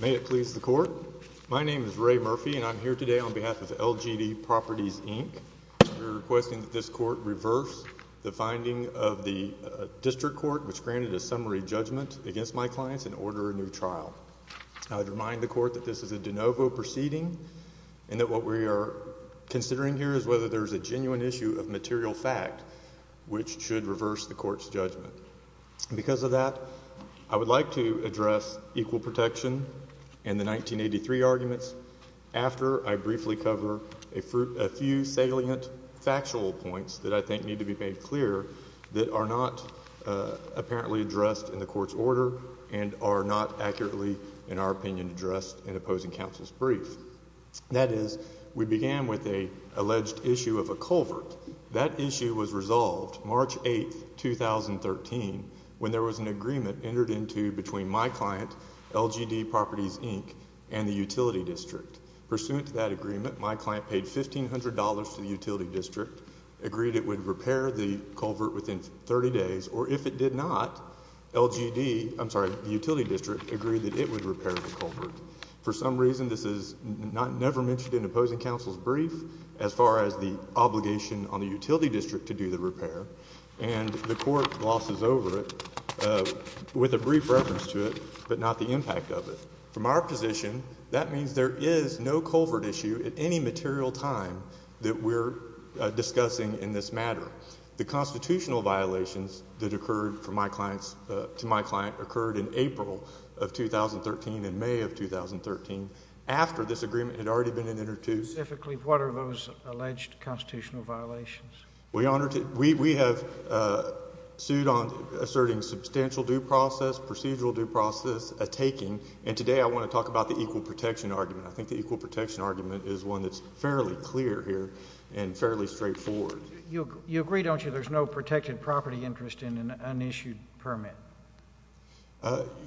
May it please the court. My name is Ray Murphy, and I'm here today on behalf of LGD Properties, Inc. We're requesting that this court reverse the finding of the District Court, which granted a summary judgment against my clients, and order a new trial. I would remind the court that this is a de novo proceeding, and that what we are considering here is whether there is a genuine issue of material fact, which should reverse the court's judgment. Because of that, I would like to address equal protection and the 1983 arguments after I briefly cover a few salient factual points that I think need to be made clear that are not apparently addressed in the court's order and are not accurately, in our opinion, addressed in opposing counsel's brief. That is, we began with an alleged issue of a culvert. That issue was resolved March 8, 2013, when there was an agreement entered into between my client, LGD Properties, Inc., and the utility district. Pursuant to that agreement, my client paid $1,500 to the utility district, agreed it would repair the culvert within 30 days, or if it did not, LGD, I'm sorry, the utility district, agreed that it would repair the culvert. For some reason, this is never mentioned in opposing counsel's brief, as far as the obligation on the utility district to do the repair, and the court glosses over it with a brief reference to it, but not the impact of it. From our position, that means there is no culvert issue at any material time that we're discussing in this matter. The constitutional violations that occurred to my client occurred in April of 2013 and May of 2013, after this agreement had already been entered into. Specifically, what are those alleged constitutional violations? Well, Your Honor, we have sued on asserting substantial due process, procedural due process, a taking, and today I want to talk about the equal protection argument. I think the equal protection argument is one that's fairly clear here and fairly straightforward. You agree, don't you, there's no protected property interest in an unissued permit?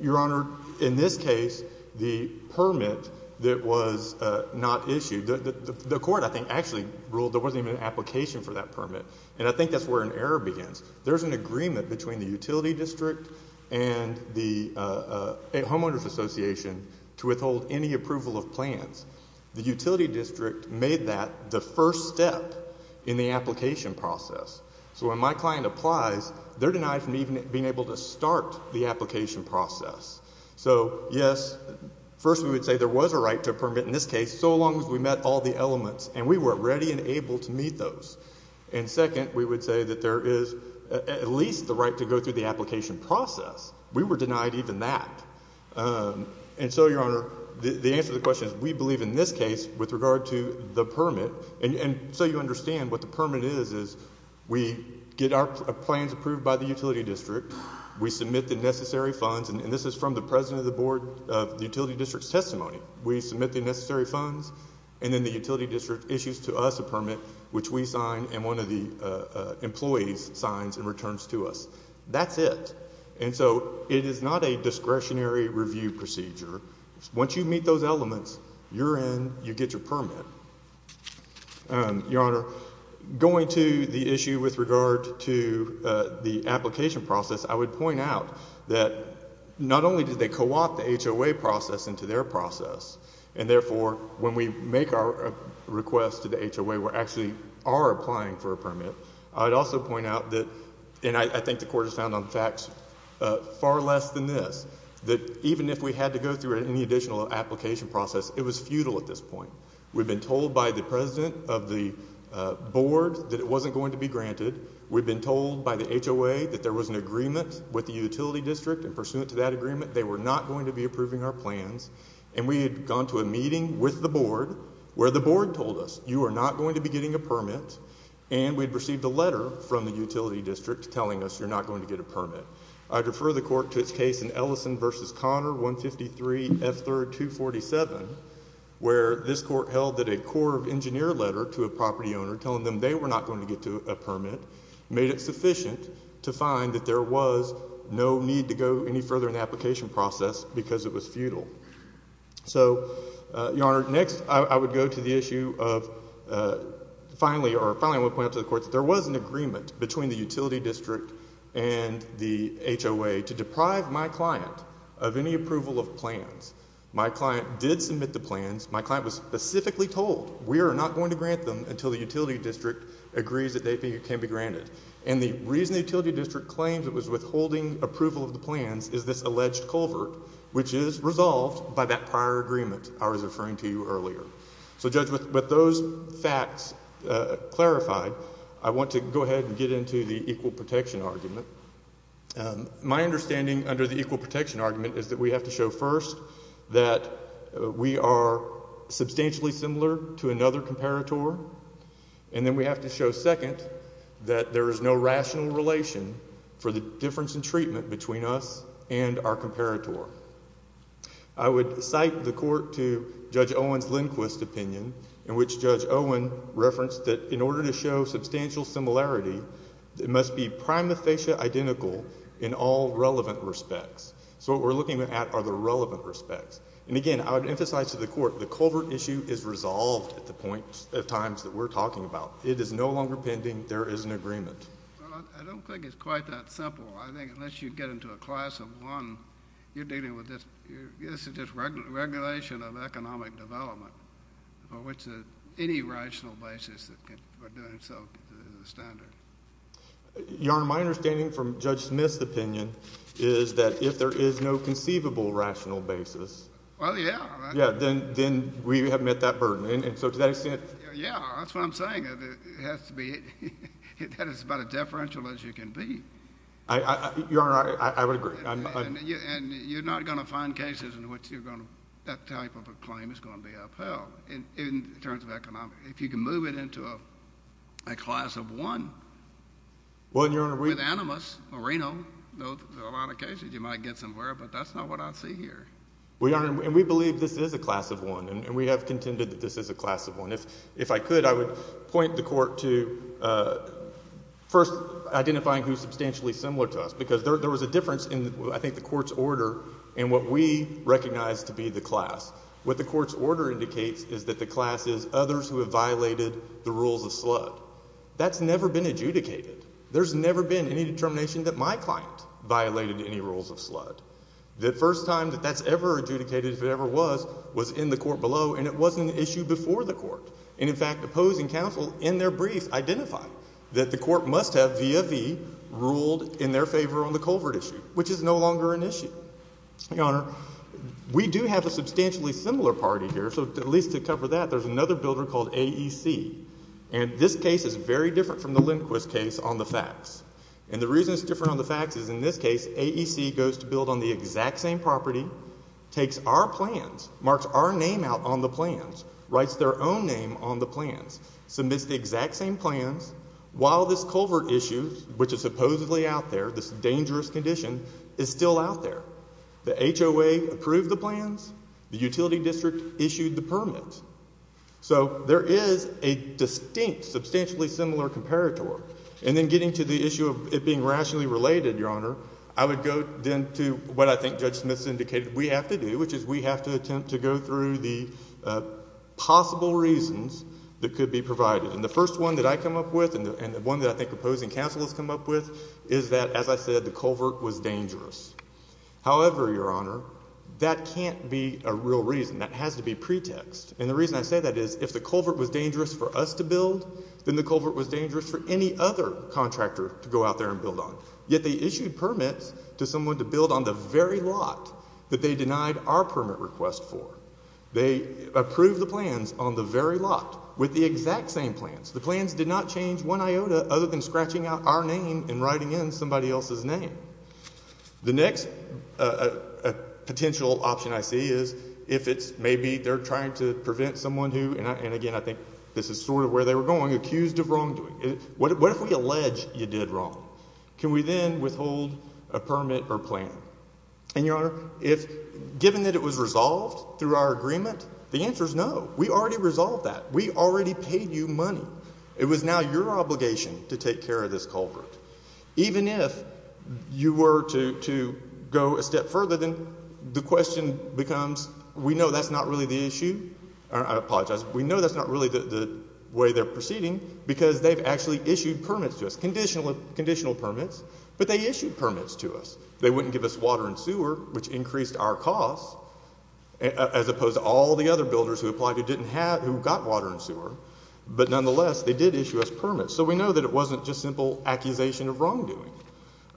Your Honor, in this case, the permit that was not issued, the court, I think, actually ruled there wasn't even an application for that permit, and I think that's where an error begins. There's an agreement between the utility district and the homeowners association to withhold any approval of plans. The utility district made that the first step in the application process. So when my client applies, they're denied from even being able to start the application process. So, yes, first we would say there was a right to a permit in this case, so long as we met all the elements, and we were ready and able to meet those. And second, we would say that there is at least the right to go through the application process. We were denied even that. And so, Your Honor, the answer to the question is we believe in this case with regard to the permit, and so you understand what the permit is, is we get our plans approved by the utility district. We submit the necessary funds, and this is from the president of the board of the utility district's testimony. We submit the necessary funds, and then the utility district issues to us a permit, which we sign and one of the employees signs and returns to us. That's it. And so it is not a discretionary review procedure. Once you meet those elements, you're in, you get your permit. Your Honor, going to the issue with regard to the application process, I would point out that not only did they co-opt the HOA process into their process, and therefore, when we make our request to the HOA, we actually are applying for a permit. I would also point out that, and I think the court has found on facts far less than this, that even if we had to go through any additional application process, it was futile at this point. We've been told by the president of the board that it wasn't going to be granted. We've been told by the HOA that there was an agreement with the utility district, and pursuant to that agreement, they were not going to be approving our plans. And we had gone to a meeting with the board where the board told us, you are not going to be getting a permit. And we'd received a letter from the utility district telling us you're not going to get a permit. I refer the court to its case in Ellison v. Connor, 153 F. 3rd, 247, where this court held that a Corps of Engineers letter to a property owner telling them they were not going to get a permit made it sufficient to find that there was no need to go any further in the application process because it was futile. So, Your Honor, next I would go to the issue of, finally, or finally I will point out to the court that there was an agreement between the utility district and the HOA to deprive my client of any approval of plans. My client did submit the plans. My client was specifically told we are not going to grant them until the utility district agrees that they can be granted. And the reason the utility district claims it was withholding approval of the plans is this alleged culvert, which is resolved by that prior agreement I was referring to earlier. So, Judge, with those facts clarified, I want to go ahead and get into the equal protection argument. My understanding under the equal protection argument is that we have to show first that we are substantially similar to another comparator. And then we have to show second that there is no rational relation for the difference in treatment between us and our comparator. I would cite the court to Judge Owen's Lindquist opinion in which Judge Owen referenced that in order to show substantial similarity, it must be prima facie identical in all relevant respects. So what we're looking at are the relevant respects. And, again, I would emphasize to the court the culvert issue is resolved at the point at times that we're talking about. It is no longer pending. There is an agreement. Well, I don't think it's quite that simple. I think unless you get into a class of one, you're dealing with this. This is just regulation of economic development for which any rational basis for doing so is a standard. Your Honor, my understanding from Judge Smith's opinion is that if there is no conceivable rational basis. Well, yeah. Yeah, then we have met that burden. And so to that extent. Yeah, that's what I'm saying. It has to be. That is about as deferential as you can be. Your Honor, I would agree. And you're not going to find cases in which that type of a claim is going to be upheld in terms of economic. If you can move it into a class of one. Well, Your Honor, we. With animus marino. There are a lot of cases you might get somewhere, but that's not what I see here. Well, Your Honor, and we believe this is a class of one, and we have contended that this is a class of one. And if I could, I would point the Court to first identifying who is substantially similar to us. Because there was a difference in, I think, the Court's order and what we recognize to be the class. What the Court's order indicates is that the class is others who have violated the rules of slud. That's never been adjudicated. There's never been any determination that my client violated any rules of slud. The first time that that's ever adjudicated, if it ever was, was in the Court below, and it wasn't an issue before the Court. And, in fact, the Poe's and Counsel, in their brief, identify that the Court must have via v. ruled in their favor on the culvert issue, which is no longer an issue. Your Honor, we do have a substantially similar party here, so at least to cover that, there's another builder called AEC. And this case is very different from the Lindquist case on the facts. And the reason it's different on the facts is, in this case, AEC goes to build on the exact same property, takes our plans, marks our name out on the plans, writes their own name on the plans, submits the exact same plans, while this culvert issue, which is supposedly out there, this dangerous condition, is still out there. The HOA approved the plans. The utility district issued the permit. So there is a distinct, substantially similar comparator. And then getting to the issue of it being rationally related, Your Honor, I would go then to what I think Judge Smith has indicated we have to do, which is we have to attempt to go through the possible reasons that could be provided. And the first one that I come up with, and the one that I think the Poe's and Counsel has come up with, is that, as I said, the culvert was dangerous. However, Your Honor, that can't be a real reason. That has to be pretext. And the reason I say that is if the culvert was dangerous for us to build, then the culvert was dangerous for any other contractor to go out there and build on. Yet they issued permits to someone to build on the very lot that they denied our permit request for. They approved the plans on the very lot with the exact same plans. The plans did not change one iota other than scratching out our name and writing in somebody else's name. The next potential option I see is if it's maybe they're trying to prevent someone who, and again I think this is sort of where they were going, accused of wrongdoing. What if we allege you did wrong? Can we then withhold a permit or plan? And, Your Honor, given that it was resolved through our agreement, the answer is no. We already resolved that. We already paid you money. It was now your obligation to take care of this culvert. Even if you were to go a step further, then the question becomes we know that's not really the issue. I apologize. We know that's not really the way they're proceeding because they've actually issued permits to us, conditional permits, but they issued permits to us. They wouldn't give us water and sewer, which increased our costs, as opposed to all the other builders who applied who didn't have, who got water and sewer. But nonetheless, they did issue us permits. So we know that it wasn't just simple accusation of wrongdoing.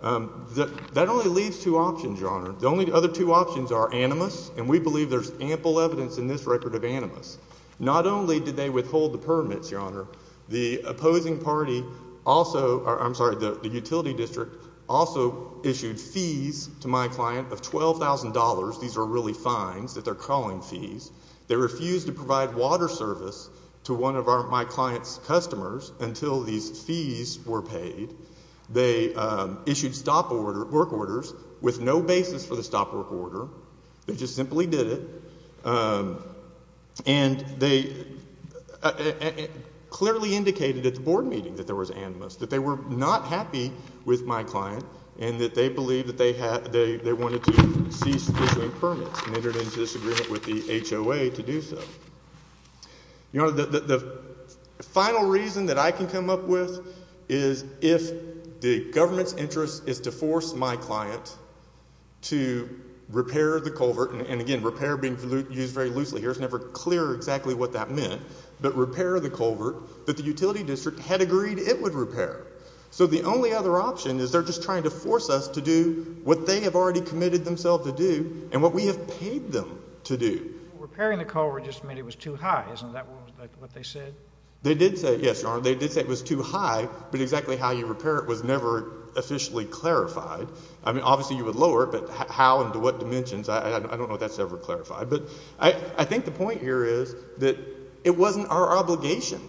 That only leaves two options, Your Honor. The only other two options are animus, and we believe there's ample evidence in this record of animus. Not only did they withhold the permits, Your Honor, the opposing party also, I'm sorry, the utility district also issued fees to my client of $12,000. These are really fines that they're calling fees. They refused to provide water service to one of my client's customers until these fees were paid. They issued stop work orders with no basis for the stop work order. They just simply did it. And they clearly indicated at the board meeting that there was animus, that they were not happy with my client and that they believed that they wanted to cease issuing permits and entered into disagreement with the HOA to do so. Your Honor, the final reason that I can come up with is if the government's interest is to force my client to repair the culvert, and again, repair being used very loosely here, it's never clear exactly what that meant, but repair the culvert that the utility district had agreed it would repair. So the only other option is they're just trying to force us to do what they have already committed themselves to do and what we have paid them to do. Repairing the culvert just meant it was too high. Isn't that what they said? They did say, yes, Your Honor, they did say it was too high, but exactly how you repair it was never officially clarified. I mean, obviously you would lower it, but how and to what dimensions, I don't know if that's ever clarified. But I think the point here is that it wasn't our obligation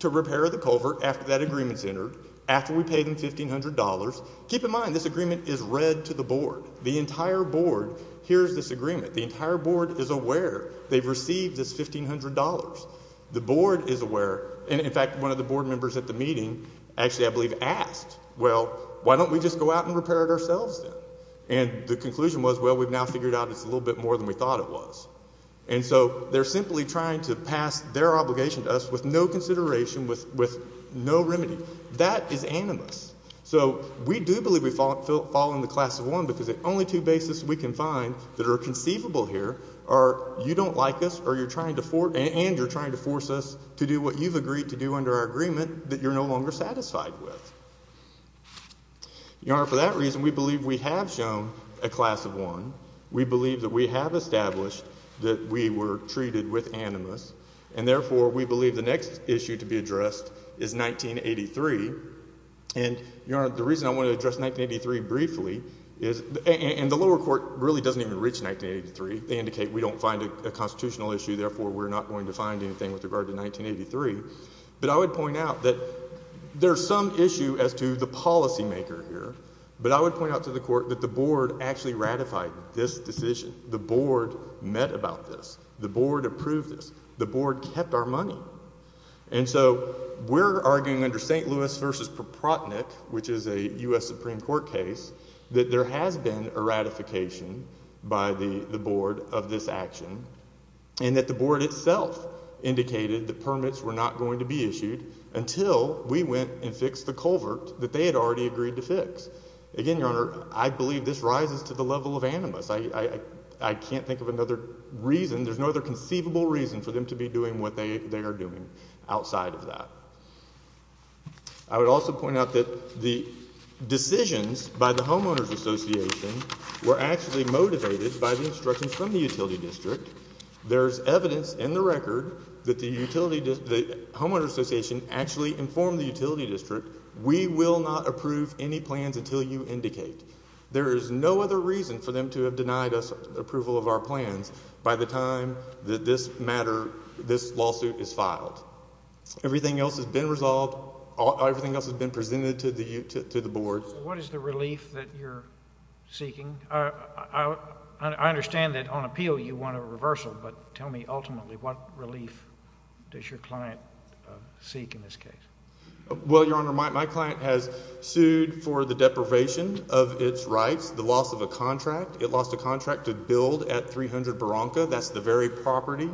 to repair the culvert after that agreement's entered, after we paid them $1,500. Keep in mind this agreement is read to the board. The entire board hears this agreement. The entire board is aware they've received this $1,500. The board is aware, and in fact one of the board members at the meeting actually I believe asked, well, why don't we just go out and repair it ourselves then? And the conclusion was, well, we've now figured out it's a little bit more than we thought it was. And so they're simply trying to pass their obligation to us with no consideration, with no remedy. That is animus. So we do believe we fall in the class of one because the only two bases we can find that are conceivable here are you don't like us and you're trying to force us to do what you've agreed to do under our agreement that you're no longer satisfied with. Your Honor, for that reason we believe we have shown a class of one. We believe that we have established that we were treated with animus, and therefore we believe the next issue to be addressed is 1983. And, Your Honor, the reason I want to address 1983 briefly is, and the lower court really doesn't even reach 1983. They indicate we don't find a constitutional issue, therefore we're not going to find anything with regard to 1983. But I would point out that there's some issue as to the policymaker here, but I would point out to the court that the board actually ratified this decision. The board met about this. The board approved this. The board kept our money. And so we're arguing under St. Louis v. Proprotnick, which is a U.S. Supreme Court case, that there has been a ratification by the board of this action and that the board itself indicated that permits were not going to be issued until we went and fixed the culvert that they had already agreed to fix. Again, Your Honor, I believe this rises to the level of animus. I can't think of another reason. There's no other conceivable reason for them to be doing what they are doing outside of that. I would also point out that the decisions by the Homeowners Association were actually motivated by the instructions from the utility district. There's evidence in the record that the Homeowners Association actually informed the utility district, we will not approve any plans until you indicate. There is no other reason for them to have denied us approval of our plans by the time that this matter, this lawsuit is filed. Everything else has been resolved. Everything else has been presented to the board. What is the relief that you're seeking? I understand that on appeal you want a reversal, but tell me ultimately what relief does your client seek in this case? Well, Your Honor, my client has sued for the deprivation of its rights, the loss of a contract. It lost a contract to build at 300 Beronka. That's the very property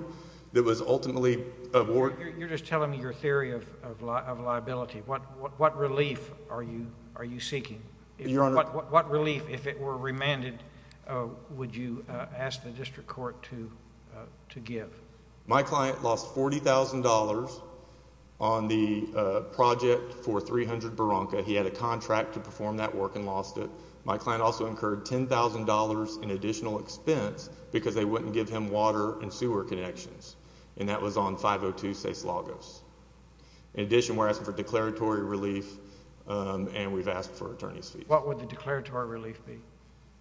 that was ultimately awarded. You're just telling me your theory of liability. What relief are you seeking? Your Honor. What relief, if it were remanded, would you ask the district court to give? My client lost $40,000 on the project for 300 Beronka. He had a contract to perform that work and lost it. My client also incurred $10,000 in additional expense because they wouldn't give him water and sewer connections, and that was on 502 Ces Lagos. In addition, we're asking for declaratory relief, and we've asked for attorney's fees. What would the declaratory relief be?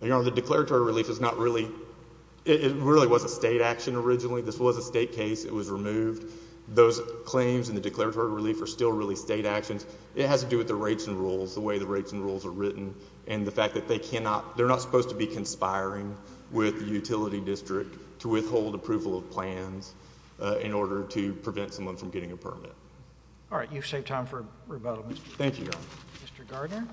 Your Honor, the declaratory relief is not really—it really was a state action originally. This was a state case. It was removed. Those claims and the declaratory relief are still really state actions. It has to do with the rates and rules, the way the rates and rules are written, and the fact that they're not supposed to be conspiring with the utility district to withhold approval of plans in order to prevent someone from getting a permit. All right. You've saved time for rebuttal, Mr. Gardner. Thank you, Your Honor. Mr. Gardner.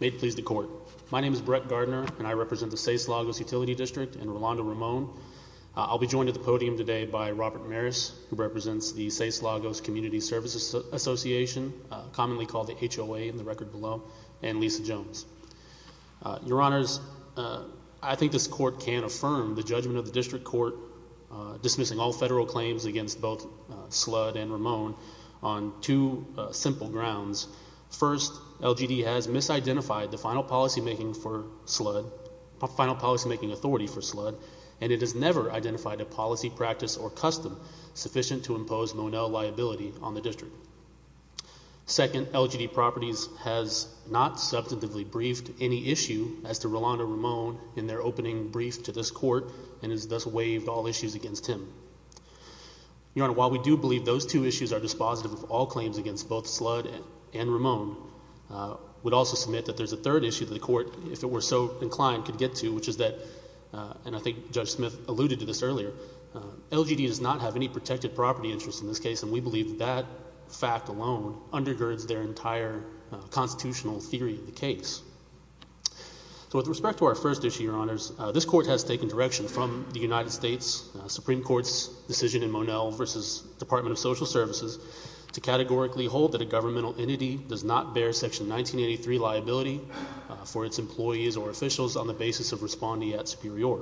May it please the court. My name is Brett Gardner, and I represent the Ces Lagos Utility District in Rolando, Ramon. I'll be joined at the podium today by Robert Maris, who represents the Ces Lagos Community Services Association, commonly called the HOA in the record below, and Lisa Jones. Your Honors, I think this court can affirm the judgment of the district court dismissing all federal claims against both Sludd and Ramon on two simple grounds. First, LGD has misidentified the final policymaking authority for Sludd, and it has never identified a policy, practice, or custom sufficient to impose Monell liability on the district. Second, LGD Properties has not substantively briefed any issue as to Rolando Ramon in their opening brief to this court and has thus waived all issues against him. Your Honor, while we do believe those two issues are dispositive of all claims against both Sludd and Ramon, we'd also submit that there's a third issue that the court, if it were so inclined, could get to, which is that, and I think Judge Smith alluded to this earlier, LGD does not have any protected property interest in this case, and we believe that fact alone undergirds their entire constitutional theory of the case. So with respect to our first issue, Your Honors, this court has taken direction from the United States Supreme Court in its decision in Monell v. Department of Social Services to categorically hold that a governmental entity does not bear Section 1983 liability for its employees or officials on the basis of responding at superior.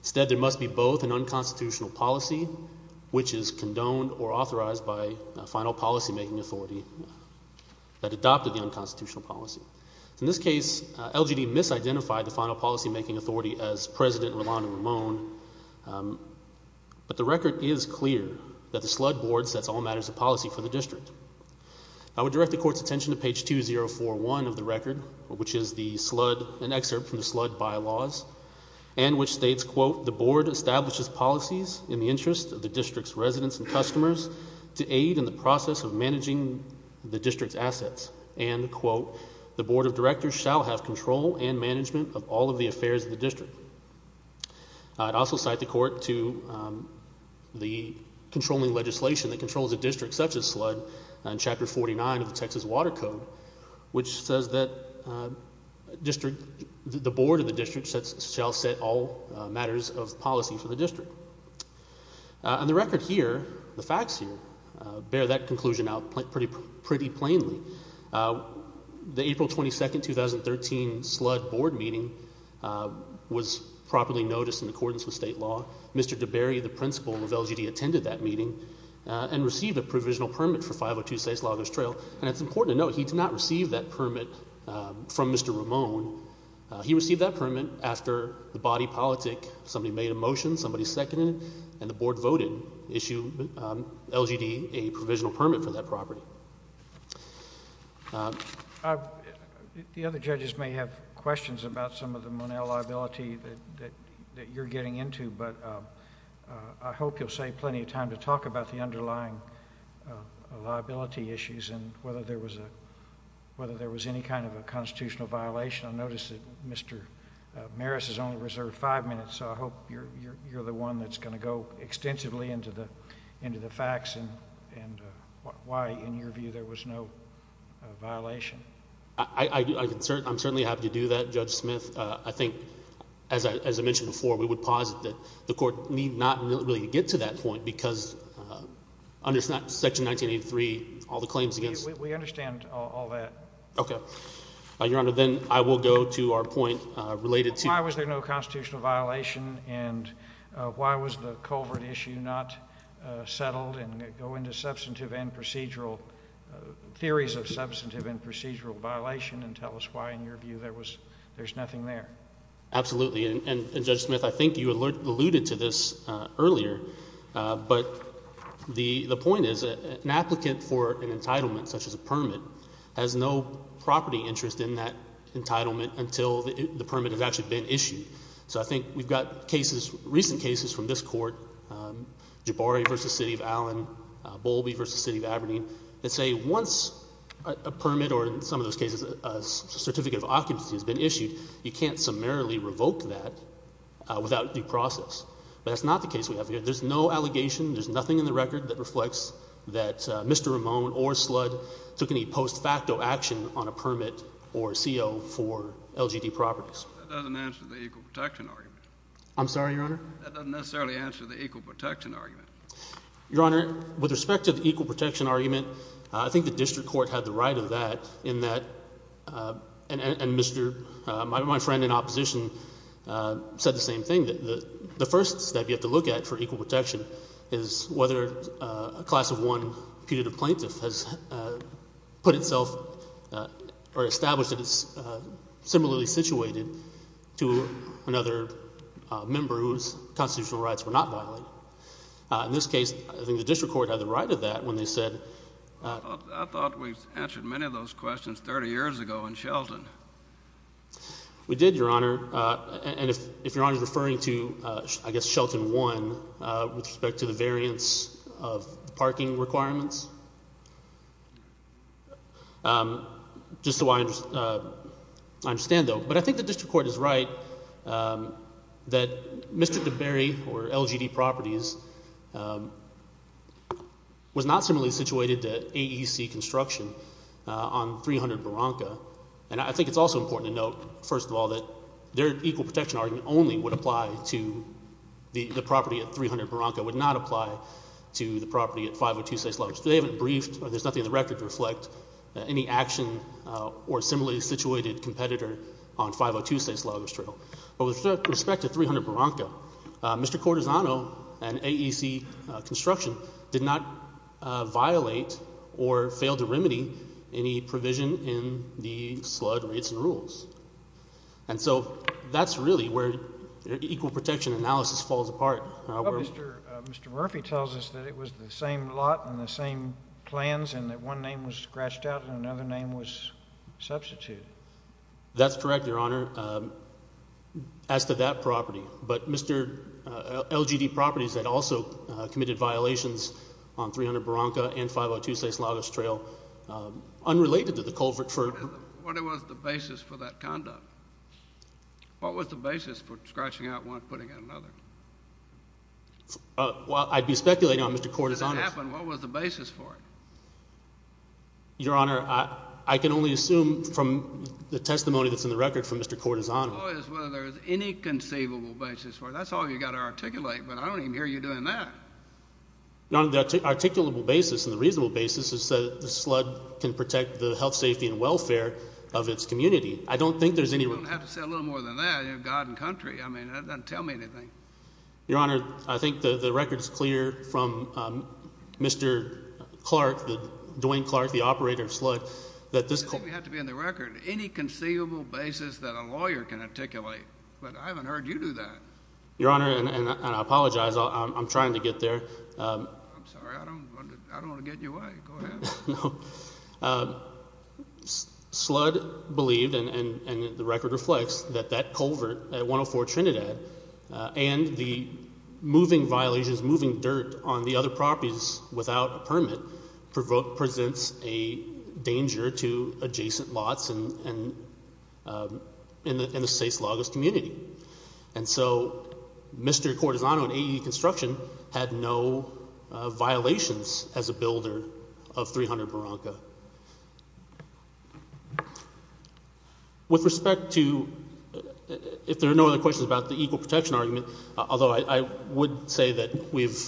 Instead, there must be both an unconstitutional policy, which is condoned or authorized by a final policymaking authority that adopted the unconstitutional policy. In this case, LGD misidentified the final policymaking authority as President Rolando Ramon, but the record is clear that the Sludd board sets all matters of policy for the district. I would direct the court's attention to page 2041 of the record, which is the Sludd, an excerpt from the Sludd bylaws, and which states, quote, the board establishes policies in the interest of the district's residents and customers to aid in the process of managing the district's assets. And, quote, the board of directors shall have control and management of all of the affairs of the district. I'd also cite the court to the controlling legislation that controls a district such as Sludd in Chapter 49 of the Texas Water Code, which says that the board of the district shall set all matters of policy for the district. And the record here, the facts here, bear that conclusion out pretty plainly. The April 22, 2013 Sludd board meeting was properly noticed in accordance with state law. Mr. DeBerry, the principal of LGD, attended that meeting and received a provisional permit for 502 Saislaugus Trail, and it's important to note he did not receive that permit from Mr. Ramon. He received that permit after the body politic, somebody made a motion, somebody seconded it, and the board voted to issue LGD a provisional permit for that property. The other judges may have questions about some of the Monell liability that you're getting into, but I hope you'll save plenty of time to talk about the underlying liability issues and whether there was any kind of a constitutional violation. I notice that Mr. Maris has only reserved five minutes, so I hope you're the one that's going to go extensively into the facts and why, in your view, there was no violation. I'm certainly happy to do that, Judge Smith. I think, as I mentioned before, we would posit that the court need not really get to that point because under Section 1983, all the claims against- We understand all that. Okay. Your Honor, then I will go to our point related to- Why was there no constitutional violation, and why was the culvert issue not settled, and go into theories of substantive and procedural violation and tell us why, in your view, there's nothing there. Absolutely, and Judge Smith, I think you alluded to this earlier, but the point is an applicant for an entitlement, such as a permit, has no property interest in that entitlement until the permit has actually been issued. So I think we've got cases, recent cases from this court, Jabari v. City of Allen, Bowlby v. City of Aberdeen, that say once a permit or, in some of those cases, a certificate of occupancy has been issued, you can't summarily revoke that without due process. But that's not the case we have here. There's no allegation, there's nothing in the record that reflects that Mr. Ramone or Sludd took any post facto action on a permit or CO for LGD properties. That doesn't answer the equal protection argument. I'm sorry, Your Honor? That doesn't necessarily answer the equal protection argument. Your Honor, with respect to the equal protection argument, I think the district court had the right of that in that, and my friend in opposition said the same thing, that the first step you have to look at for equal protection is whether a class of one putative plaintiff has put itself or established that it's similarly situated to another member whose constitutional rights were not violated. In this case, I think the district court had the right of that when they said— I thought we answered many of those questions 30 years ago in Shelton. We did, Your Honor. And if Your Honor is referring to, I guess, Shelton 1 with respect to the variance of parking requirements, just so I understand, though. But I think the district court is right that Mr. DeBerry for LGD properties was not similarly situated to AEC construction on 300 Barranca. And I think it's also important to note, first of all, that their equal protection argument only would apply to the property at 300 Barranca, would not apply to the property at 502 St. Sludd. They haven't briefed or there's nothing in the record to reflect any action or similarly situated competitor on 502 St. Sludders Trail. But with respect to 300 Barranca, Mr. Cortisano and AEC construction did not violate or fail to remedy any provision in the slud rates and rules. And so that's really where equal protection analysis falls apart. Mr. Murphy tells us that it was the same lot and the same plans and that one name was scratched out and another name was substituted. That's correct, Your Honor, as to that property. But Mr. LGD properties had also committed violations on 300 Barranca and 502 St. Sludders Trail unrelated to the culvert for— What was the basis for that conduct? What was the basis for scratching out one and putting in another? Well, I'd be speculating on Mr. Cortisano's— How did that happen? What was the basis for it? Your Honor, I can only assume from the testimony that's in the record from Mr. Cortisano. The point is whether there's any conceivable basis for it. That's all you've got to articulate, but I don't even hear you doing that. Your Honor, the articulable basis and the reasonable basis is that the slud can protect the health, safety, and welfare of its community. I don't think there's any— You don't have to say a little more than that. God and country. I mean that doesn't tell me anything. Your Honor, I think the record is clear from Mr. Clark, Dwayne Clark, the operator of Sludd, that this— It doesn't have to be in the record. Any conceivable basis that a lawyer can articulate. But I haven't heard you do that. Your Honor, and I apologize. I'm trying to get there. I'm sorry. I don't want to get in your way. Go ahead. Sludd believed, and the record reflects, that that culvert at 104 Trinidad and the moving violations, moving dirt on the other properties without a permit, presents a danger to adjacent lots in the St. Slavos community. And so Mr. Cortisano in AE Construction had no violations as a builder of 300 Maranca. With respect to—if there are no other questions about the equal protection argument, although I would say that we've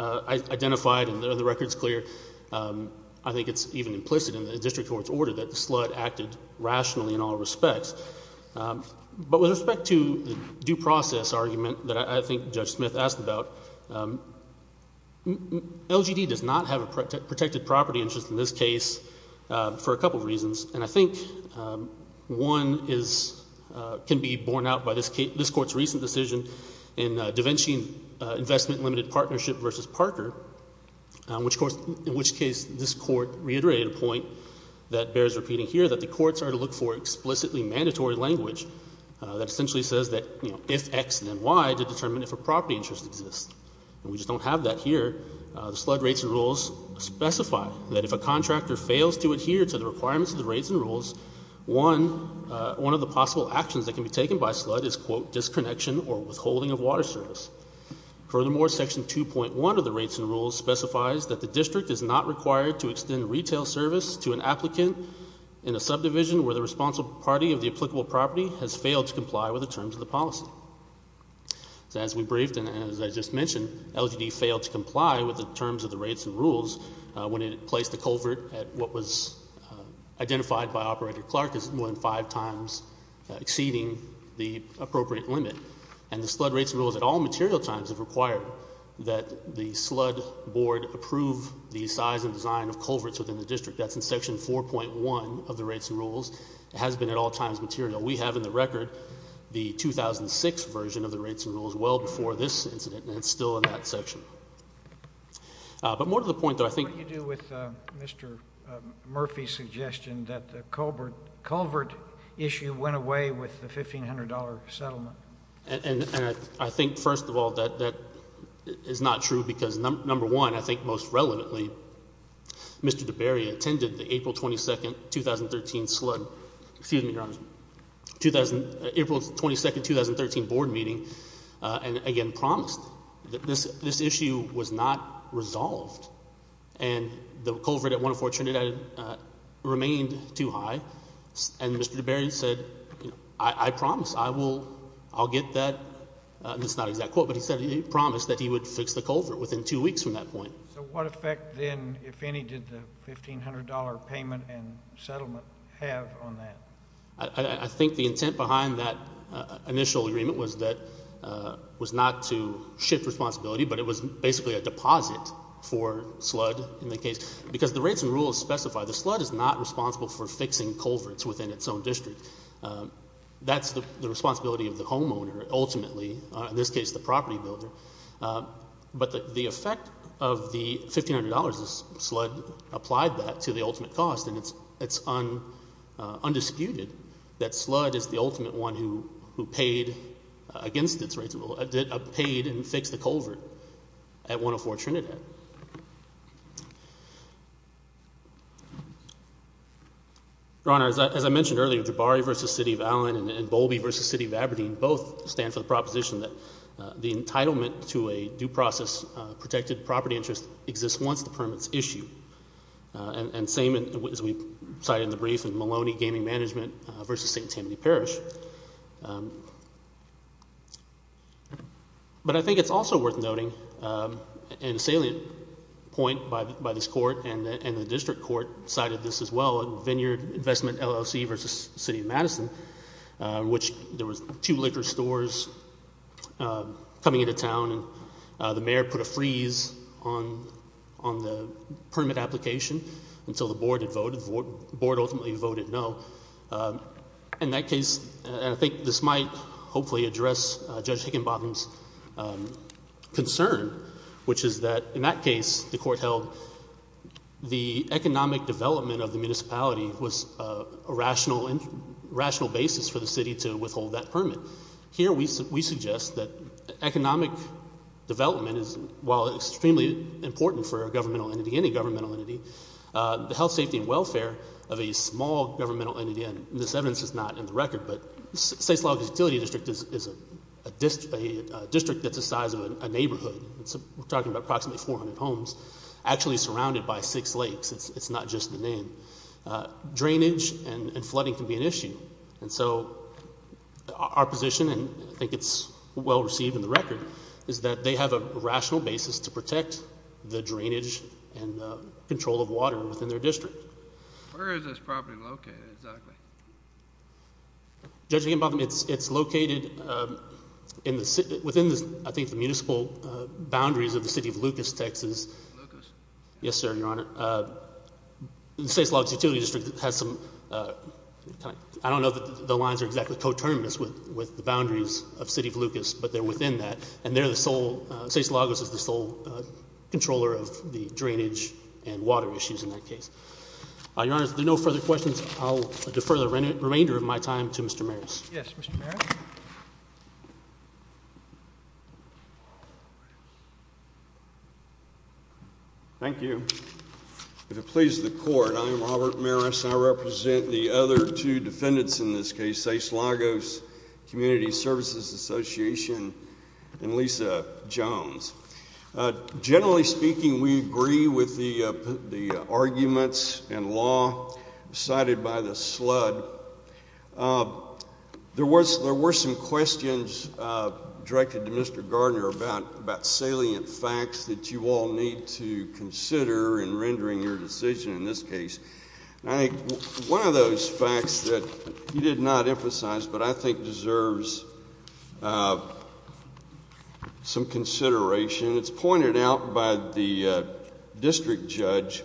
identified, and the record is clear, I think it's even implicit in the district court's order that Sludd acted rationally in all respects. But with respect to the due process argument that I think Judge Smith asked about, LGD does not have a protected property interest in this case for a couple reasons. And I think one can be borne out by this court's recent decision in DaVinci Investment Limited Partnership v. Parker, in which case this court reiterated a point that bears repeating here that the courts are to look for explicitly mandatory language that essentially says that if X then Y to determine if a property interest exists. And we just don't have that here. The Sludd rates and rules specify that if a contractor fails to adhere to the requirements of the rates and rules, one of the possible actions that can be taken by Sludd is, quote, disconnection or withholding of water service. Furthermore, section 2.1 of the rates and rules specifies that the district is not required to extend retail service to an applicant in a subdivision where the responsible party of the applicable property has failed to comply with the terms of the policy. So as we briefed and as I just mentioned, LGD failed to comply with the terms of the rates and rules when it placed the culvert at what was identified by Operator Clark as more than five times exceeding the appropriate limit. And the Sludd rates and rules at all material times have required that the Sludd board approve the size and design of culverts within the district. That's in section 4.1 of the rates and rules. It has been at all times material. We have in the record the 2006 version of the rates and rules well before this incident, and it's still in that section. But more to the point, though, I think— Mr. Murphy's suggestion that the culvert issue went away with the $1,500 settlement. And I think, first of all, that is not true because, number one, I think most relevantly, Mr. DeBerry attended the April 22, 2013 board meeting and, again, promised that this issue was not resolved. And the culvert at 104 Trinidad remained too high, and Mr. DeBerry said, I promise I will—I'll get that—it's not an exact quote, but he said he promised that he would fix the culvert within two weeks from that point. So what effect then, if any, did the $1,500 payment and settlement have on that? I think the intent behind that initial agreement was that—was not to shift responsibility, but it was basically a deposit for SLUD in the case. Because the rates and rules specify that SLUD is not responsible for fixing culverts within its own district. That's the responsibility of the homeowner, ultimately, in this case the property builder. But the effect of the $1,500 is SLUD applied that to the ultimate cost, and it's undisputed that SLUD is the ultimate one who paid against its rates of—paid and fixed the culvert at 104 Trinidad. Your Honor, as I mentioned earlier, Jabari v. City of Allen and Bowlby v. City of Aberdeen both stand for the proposition that the entitlement to a due process protected property interest exists once the permit is issued. And same as we cited in the brief in Maloney Gaming Management v. St. Tammany Parish. But I think it's also worth noting, and a salient point by this court and the district court cited this as well, in Vineyard Investment LLC v. City of Madison, in which there were two liquor stores coming into town and the mayor put a freeze on the permit application until the board ultimately voted no. In that case, and I think this might hopefully address Judge Higginbottom's concern, which is that in that case the court held the economic development of the municipality was a rational basis for the city to withhold that permit. Here we suggest that economic development is, while extremely important for a governmental entity, any governmental entity, the health, safety, and welfare of a small governmental entity, and this evidence is not in the record, but the States Logistics Utility District is a district that's the size of a neighborhood. We're talking about approximately 400 homes actually surrounded by six lakes. It's not just the name. Drainage and flooding can be an issue, and so our position, and I think it's well received in the record, is that they have a rational basis to protect the drainage and control of water within their district. Where is this property located exactly? Judge Higginbottom, it's located within, I think, the municipal boundaries of the City of Lucas, Texas. Lucas? Yes, sir, Your Honor. The States Logistics Utility District has some – I don't know that the lines are exactly coterminous with the boundaries of City of Lucas, but they're within that, and they're the sole – States Lagos is the sole controller of the drainage and water issues in that case. Your Honor, if there are no further questions, I'll defer the remainder of my time to Mr. Marris. Yes, Mr. Marris. Thank you. If it pleases the Court, I am Robert Marris. I represent the other two defendants in this case, States Lagos Community Services Association and Lisa Jones. Generally speaking, we agree with the arguments and law cited by the slud. There were some questions directed to Mr. Gardner about salient facts that you all need to consider in rendering your decision in this case. One of those facts that he did not emphasize but I think deserves some consideration, it's pointed out by the district judge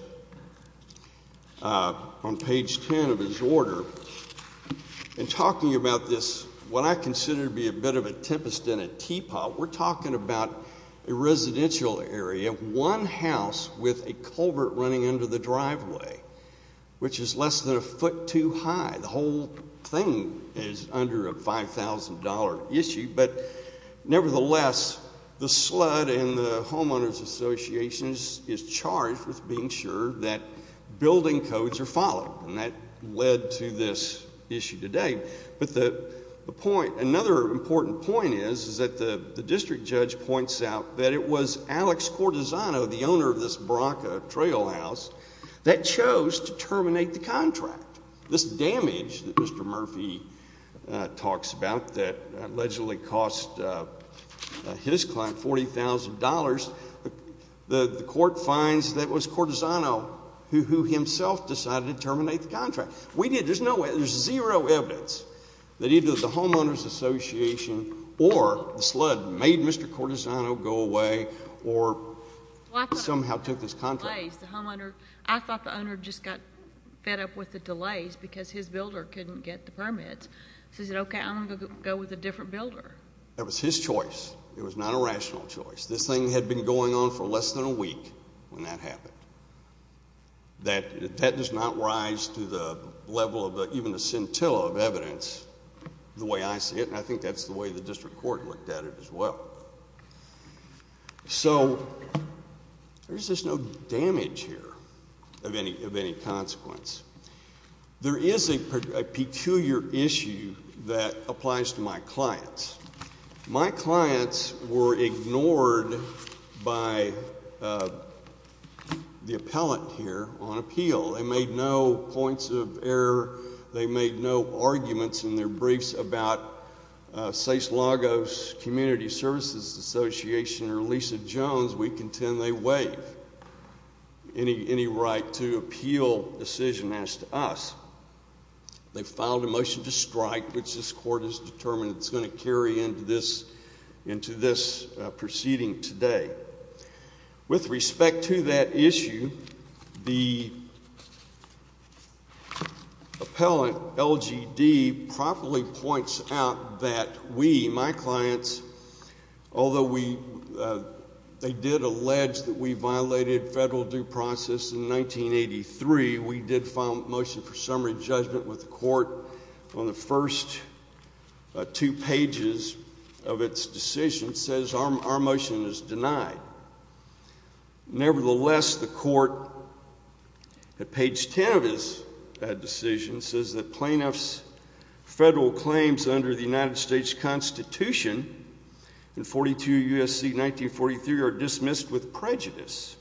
on page 10 of his order. In talking about this, what I consider to be a bit of a tempest in a teapot, we're talking about a residential area, one house with a culvert running under the driveway, which is less than a foot too high. The whole thing is under a $5,000 issue. But nevertheless, the slud and the homeowners associations is charged with being sure that building codes are followed. And that led to this issue today. But another important point is that the district judge points out that it was Alex Cortisano, the owner of this Bronco Trailhouse, that chose to terminate the contract. This damage that Mr. Murphy talks about that allegedly cost his client $40,000, the court finds that it was Cortisano who himself decided to terminate the contract. We did. There's zero evidence that either the homeowners association or the slud made Mr. Cortisano go away or somehow took this contract. I thought the owner just got fed up with the delays because his builder couldn't get the permits. He said, okay, I'm going to go with a different builder. That was his choice. It was not a rational choice. This thing had been going on for less than a week when that happened. That does not rise to the level of even a scintilla of evidence the way I see it, and I think that's the way the district court looked at it as well. So there's just no damage here of any consequence. There is a peculiar issue that applies to my clients. My clients were ignored by the appellant here on appeal. They made no points of error. They made no arguments in their briefs about SACE Lagos Community Services Association or Lisa Jones. We contend they waive any right to appeal decision as to us. They filed a motion to strike, which this court has determined it's going to carry into this proceeding today. With respect to that issue, the appellant, LGD, properly points out that we, my clients, although they did allege that we violated federal due process in 1983, we did file a motion for summary judgment with the court from the first two pages of its decision, says our motion is denied. Nevertheless, the court, at page 10 of its decision, says that plaintiff's federal claims under the United States Constitution in 42 U.S.C. 1943 are dismissed with prejudice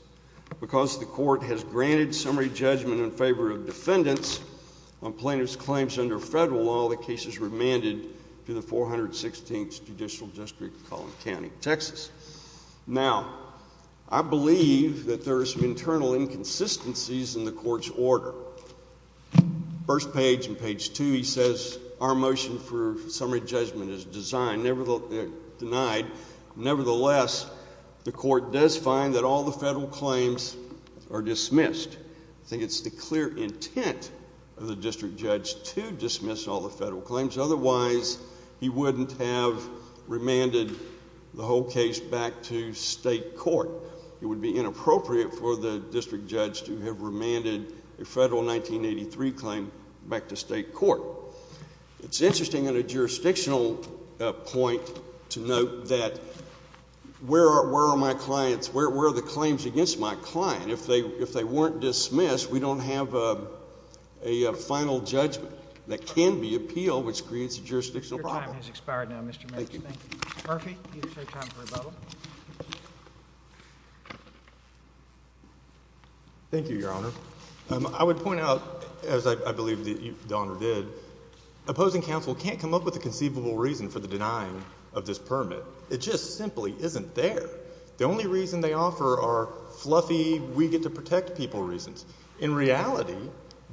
because the court has granted summary judgment in favor of defendants on plaintiff's claims under federal law. The case is remanded to the 416th Judicial District of Collin County, Texas. Now, I believe that there are some internal inconsistencies in the court's order. First page and page two, he says our motion for summary judgment is denied. Nevertheless, the court does find that all the federal claims are dismissed. I think it's the clear intent of the district judge to dismiss all the federal claims. Otherwise, he wouldn't have remanded the whole case back to state court. It would be inappropriate for the district judge to have remanded a federal 1983 claim back to state court. It's interesting on a jurisdictional point to note that where are my clients, where are the claims against my client? If they weren't dismissed, we don't have a final judgment that can be appealed, which creates a jurisdictional problem. Thank you. Thank you, Your Honor. I would point out, as I believe the honor did, opposing counsel can't come up with a conceivable reason for the denying of this permit. It just simply isn't there. The only reason they offer are fluffy we get to protect people reasons. In reality,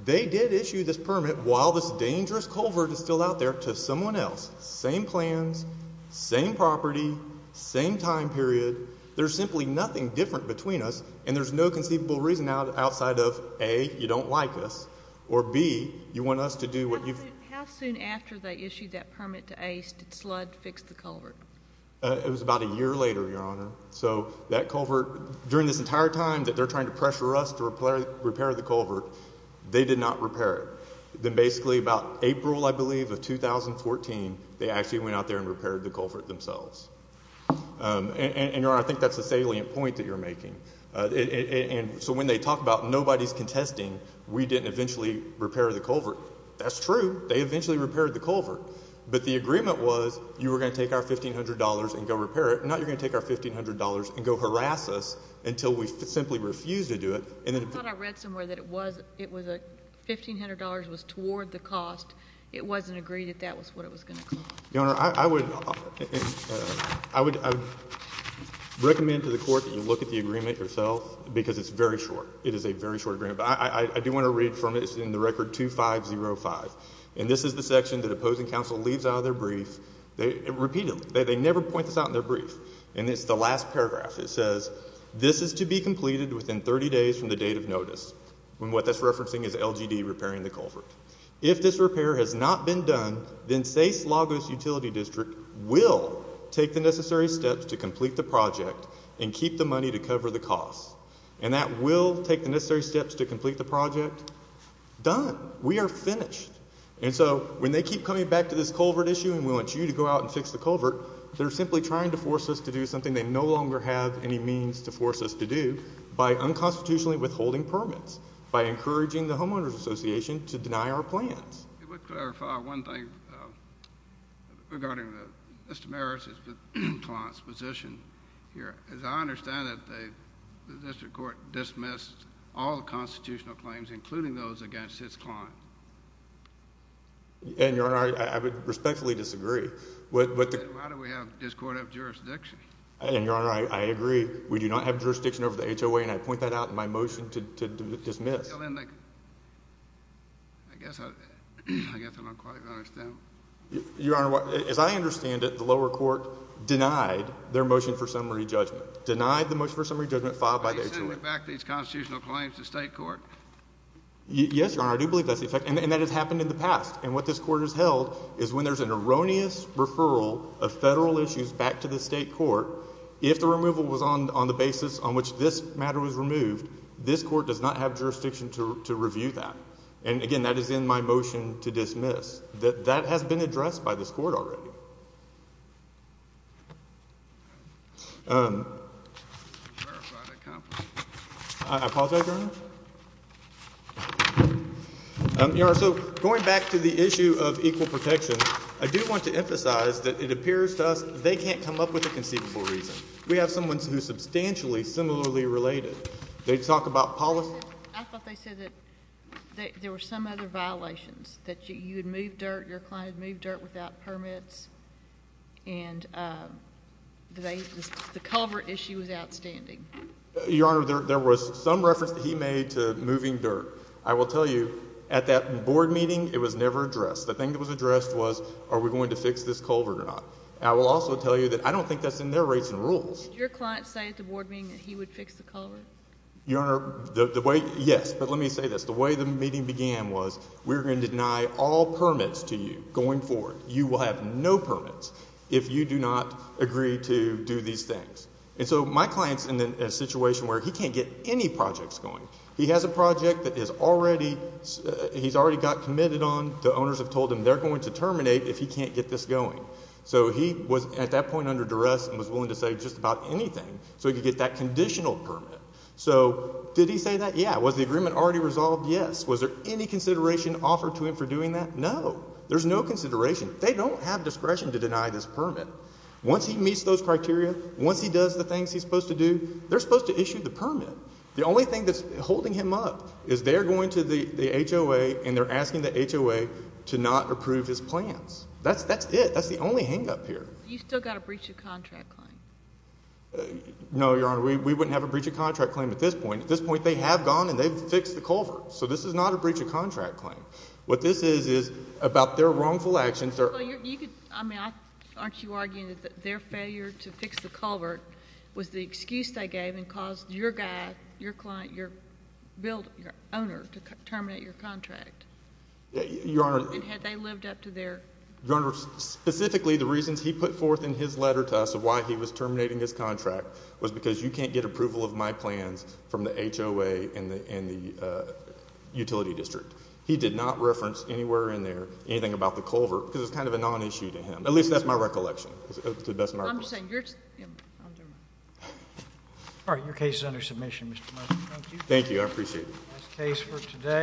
they did issue this permit while this dangerous culvert is still out there to someone else. Same plans, same property, same time period. There's simply nothing different between us, and there's no conceivable reason outside of, A, you don't like us, or, B, you want us to do what you. How soon after they issued that permit to Ace did Sludd fix the culvert? It was about a year later, Your Honor. So that culvert, during this entire time that they're trying to pressure us to repair the culvert, they did not repair it. Then basically about April, I believe, of 2014, they actually went out there and repaired the culvert themselves. And, Your Honor, I think that's a salient point that you're making. And so when they talk about nobody's contesting, we didn't eventually repair the culvert, that's true. They eventually repaired the culvert. But the agreement was you were going to take our $1,500 and go repair it. Now you're going to take our $1,500 and go harass us until we simply refuse to do it. I thought I read somewhere that $1,500 was toward the cost. It wasn't agreed that that was what it was going to cost. Your Honor, I would recommend to the court that you look at the agreement yourself because it's very short. It is a very short agreement. But I do want to read from it. It's in the record 2505. And this is the section that opposing counsel leaves out of their brief repeatedly. They never point this out in their brief. And it's the last paragraph. It says, This is to be completed within 30 days from the date of notice. And what that's referencing is LGD repairing the culvert. If this repair has not been done, then SACE Lagos Utility District will take the necessary steps to complete the project and keep the money to cover the cost. And that will take the necessary steps to complete the project. Done. We are finished. And so when they keep coming back to this culvert issue and we want you to go out and fix the culvert, they're simply trying to force us to do something they no longer have any means to force us to do by unconstitutionally withholding permits, by encouraging the Homeowners Association to deny our plans. It would clarify one thing regarding Mr. Maris' client's position here. As I understand it, the district court dismissed all the constitutional claims, including those against his client. And, Your Honor, I would respectfully disagree. Why do we have this court of jurisdiction? And, Your Honor, I agree. We do not have jurisdiction over the HOA, and I point that out in my motion to dismiss. I guess I don't quite understand. Your Honor, as I understand it, the lower court denied their motion for summary judgment, denied the motion for summary judgment filed by their court. Are you sending back these constitutional claims to state court? Yes, Your Honor, I do believe that's the effect. And that has happened in the past. And what this court has held is when there's an erroneous referral of federal issues back to the state court, if the removal was on the basis on which this matter was removed, this court does not have jurisdiction to review that. And, again, that is in my motion to dismiss. That has been addressed by this court already. I apologize, Your Honor. Your Honor, so going back to the issue of equal protection, I do want to emphasize that it appears to us they can't come up with a conceivable reason. We have someone who is substantially similarly related. They talk about policy. I thought they said that there were some other violations, that you had moved dirt, your client had moved dirt without permits, and the culvert issue was outstanding. Your Honor, there was some reference that he made to moving dirt. I will tell you, at that board meeting, it was never addressed. The thing that was addressed was are we going to fix this culvert or not. And I will also tell you that I don't think that's in their rates and rules. Did your client say at the board meeting that he would fix the culvert? Your Honor, yes, but let me say this. The way the meeting began was we were going to deny all permits to you going forward. You will have no permits if you do not agree to do these things. And so my client is in a situation where he can't get any projects going. He has a project that he's already got committed on. The owners have told him they're going to terminate if he can't get this going. So he was at that point under duress and was willing to say just about anything so he could get that conditional permit. So did he say that? Yeah. Was the agreement already resolved? Yes. Was there any consideration offered to him for doing that? No. There's no consideration. They don't have discretion to deny this permit. Once he meets those criteria, once he does the things he's supposed to do, they're supposed to issue the permit. The only thing that's holding him up is they're going to the HOA and they're asking the HOA to not approve his plans. That's it. That's the only hang-up here. You still got a breach of contract claim? No, Your Honor. We wouldn't have a breach of contract claim at this point. At this point, they have gone and they've fixed the culvert. So this is not a breach of contract claim. What this is is about their wrongful actions. Aren't you arguing that their failure to fix the culvert was the excuse they gave and caused your guy, your client, your owner to terminate your contract? Your Honor. And had they lived up to their— Your Honor, specifically the reasons he put forth in his letter to us of why he was terminating his contract was because you can't get approval of my plans from the HOA and the utility district. He did not reference anywhere in there anything about the culvert because it's kind of a non-issue to him. At least that's my recollection. To the best of my recollection. All right. Your case is under submission, Mr. Larson. Thank you. I appreciate it. That's the case for today.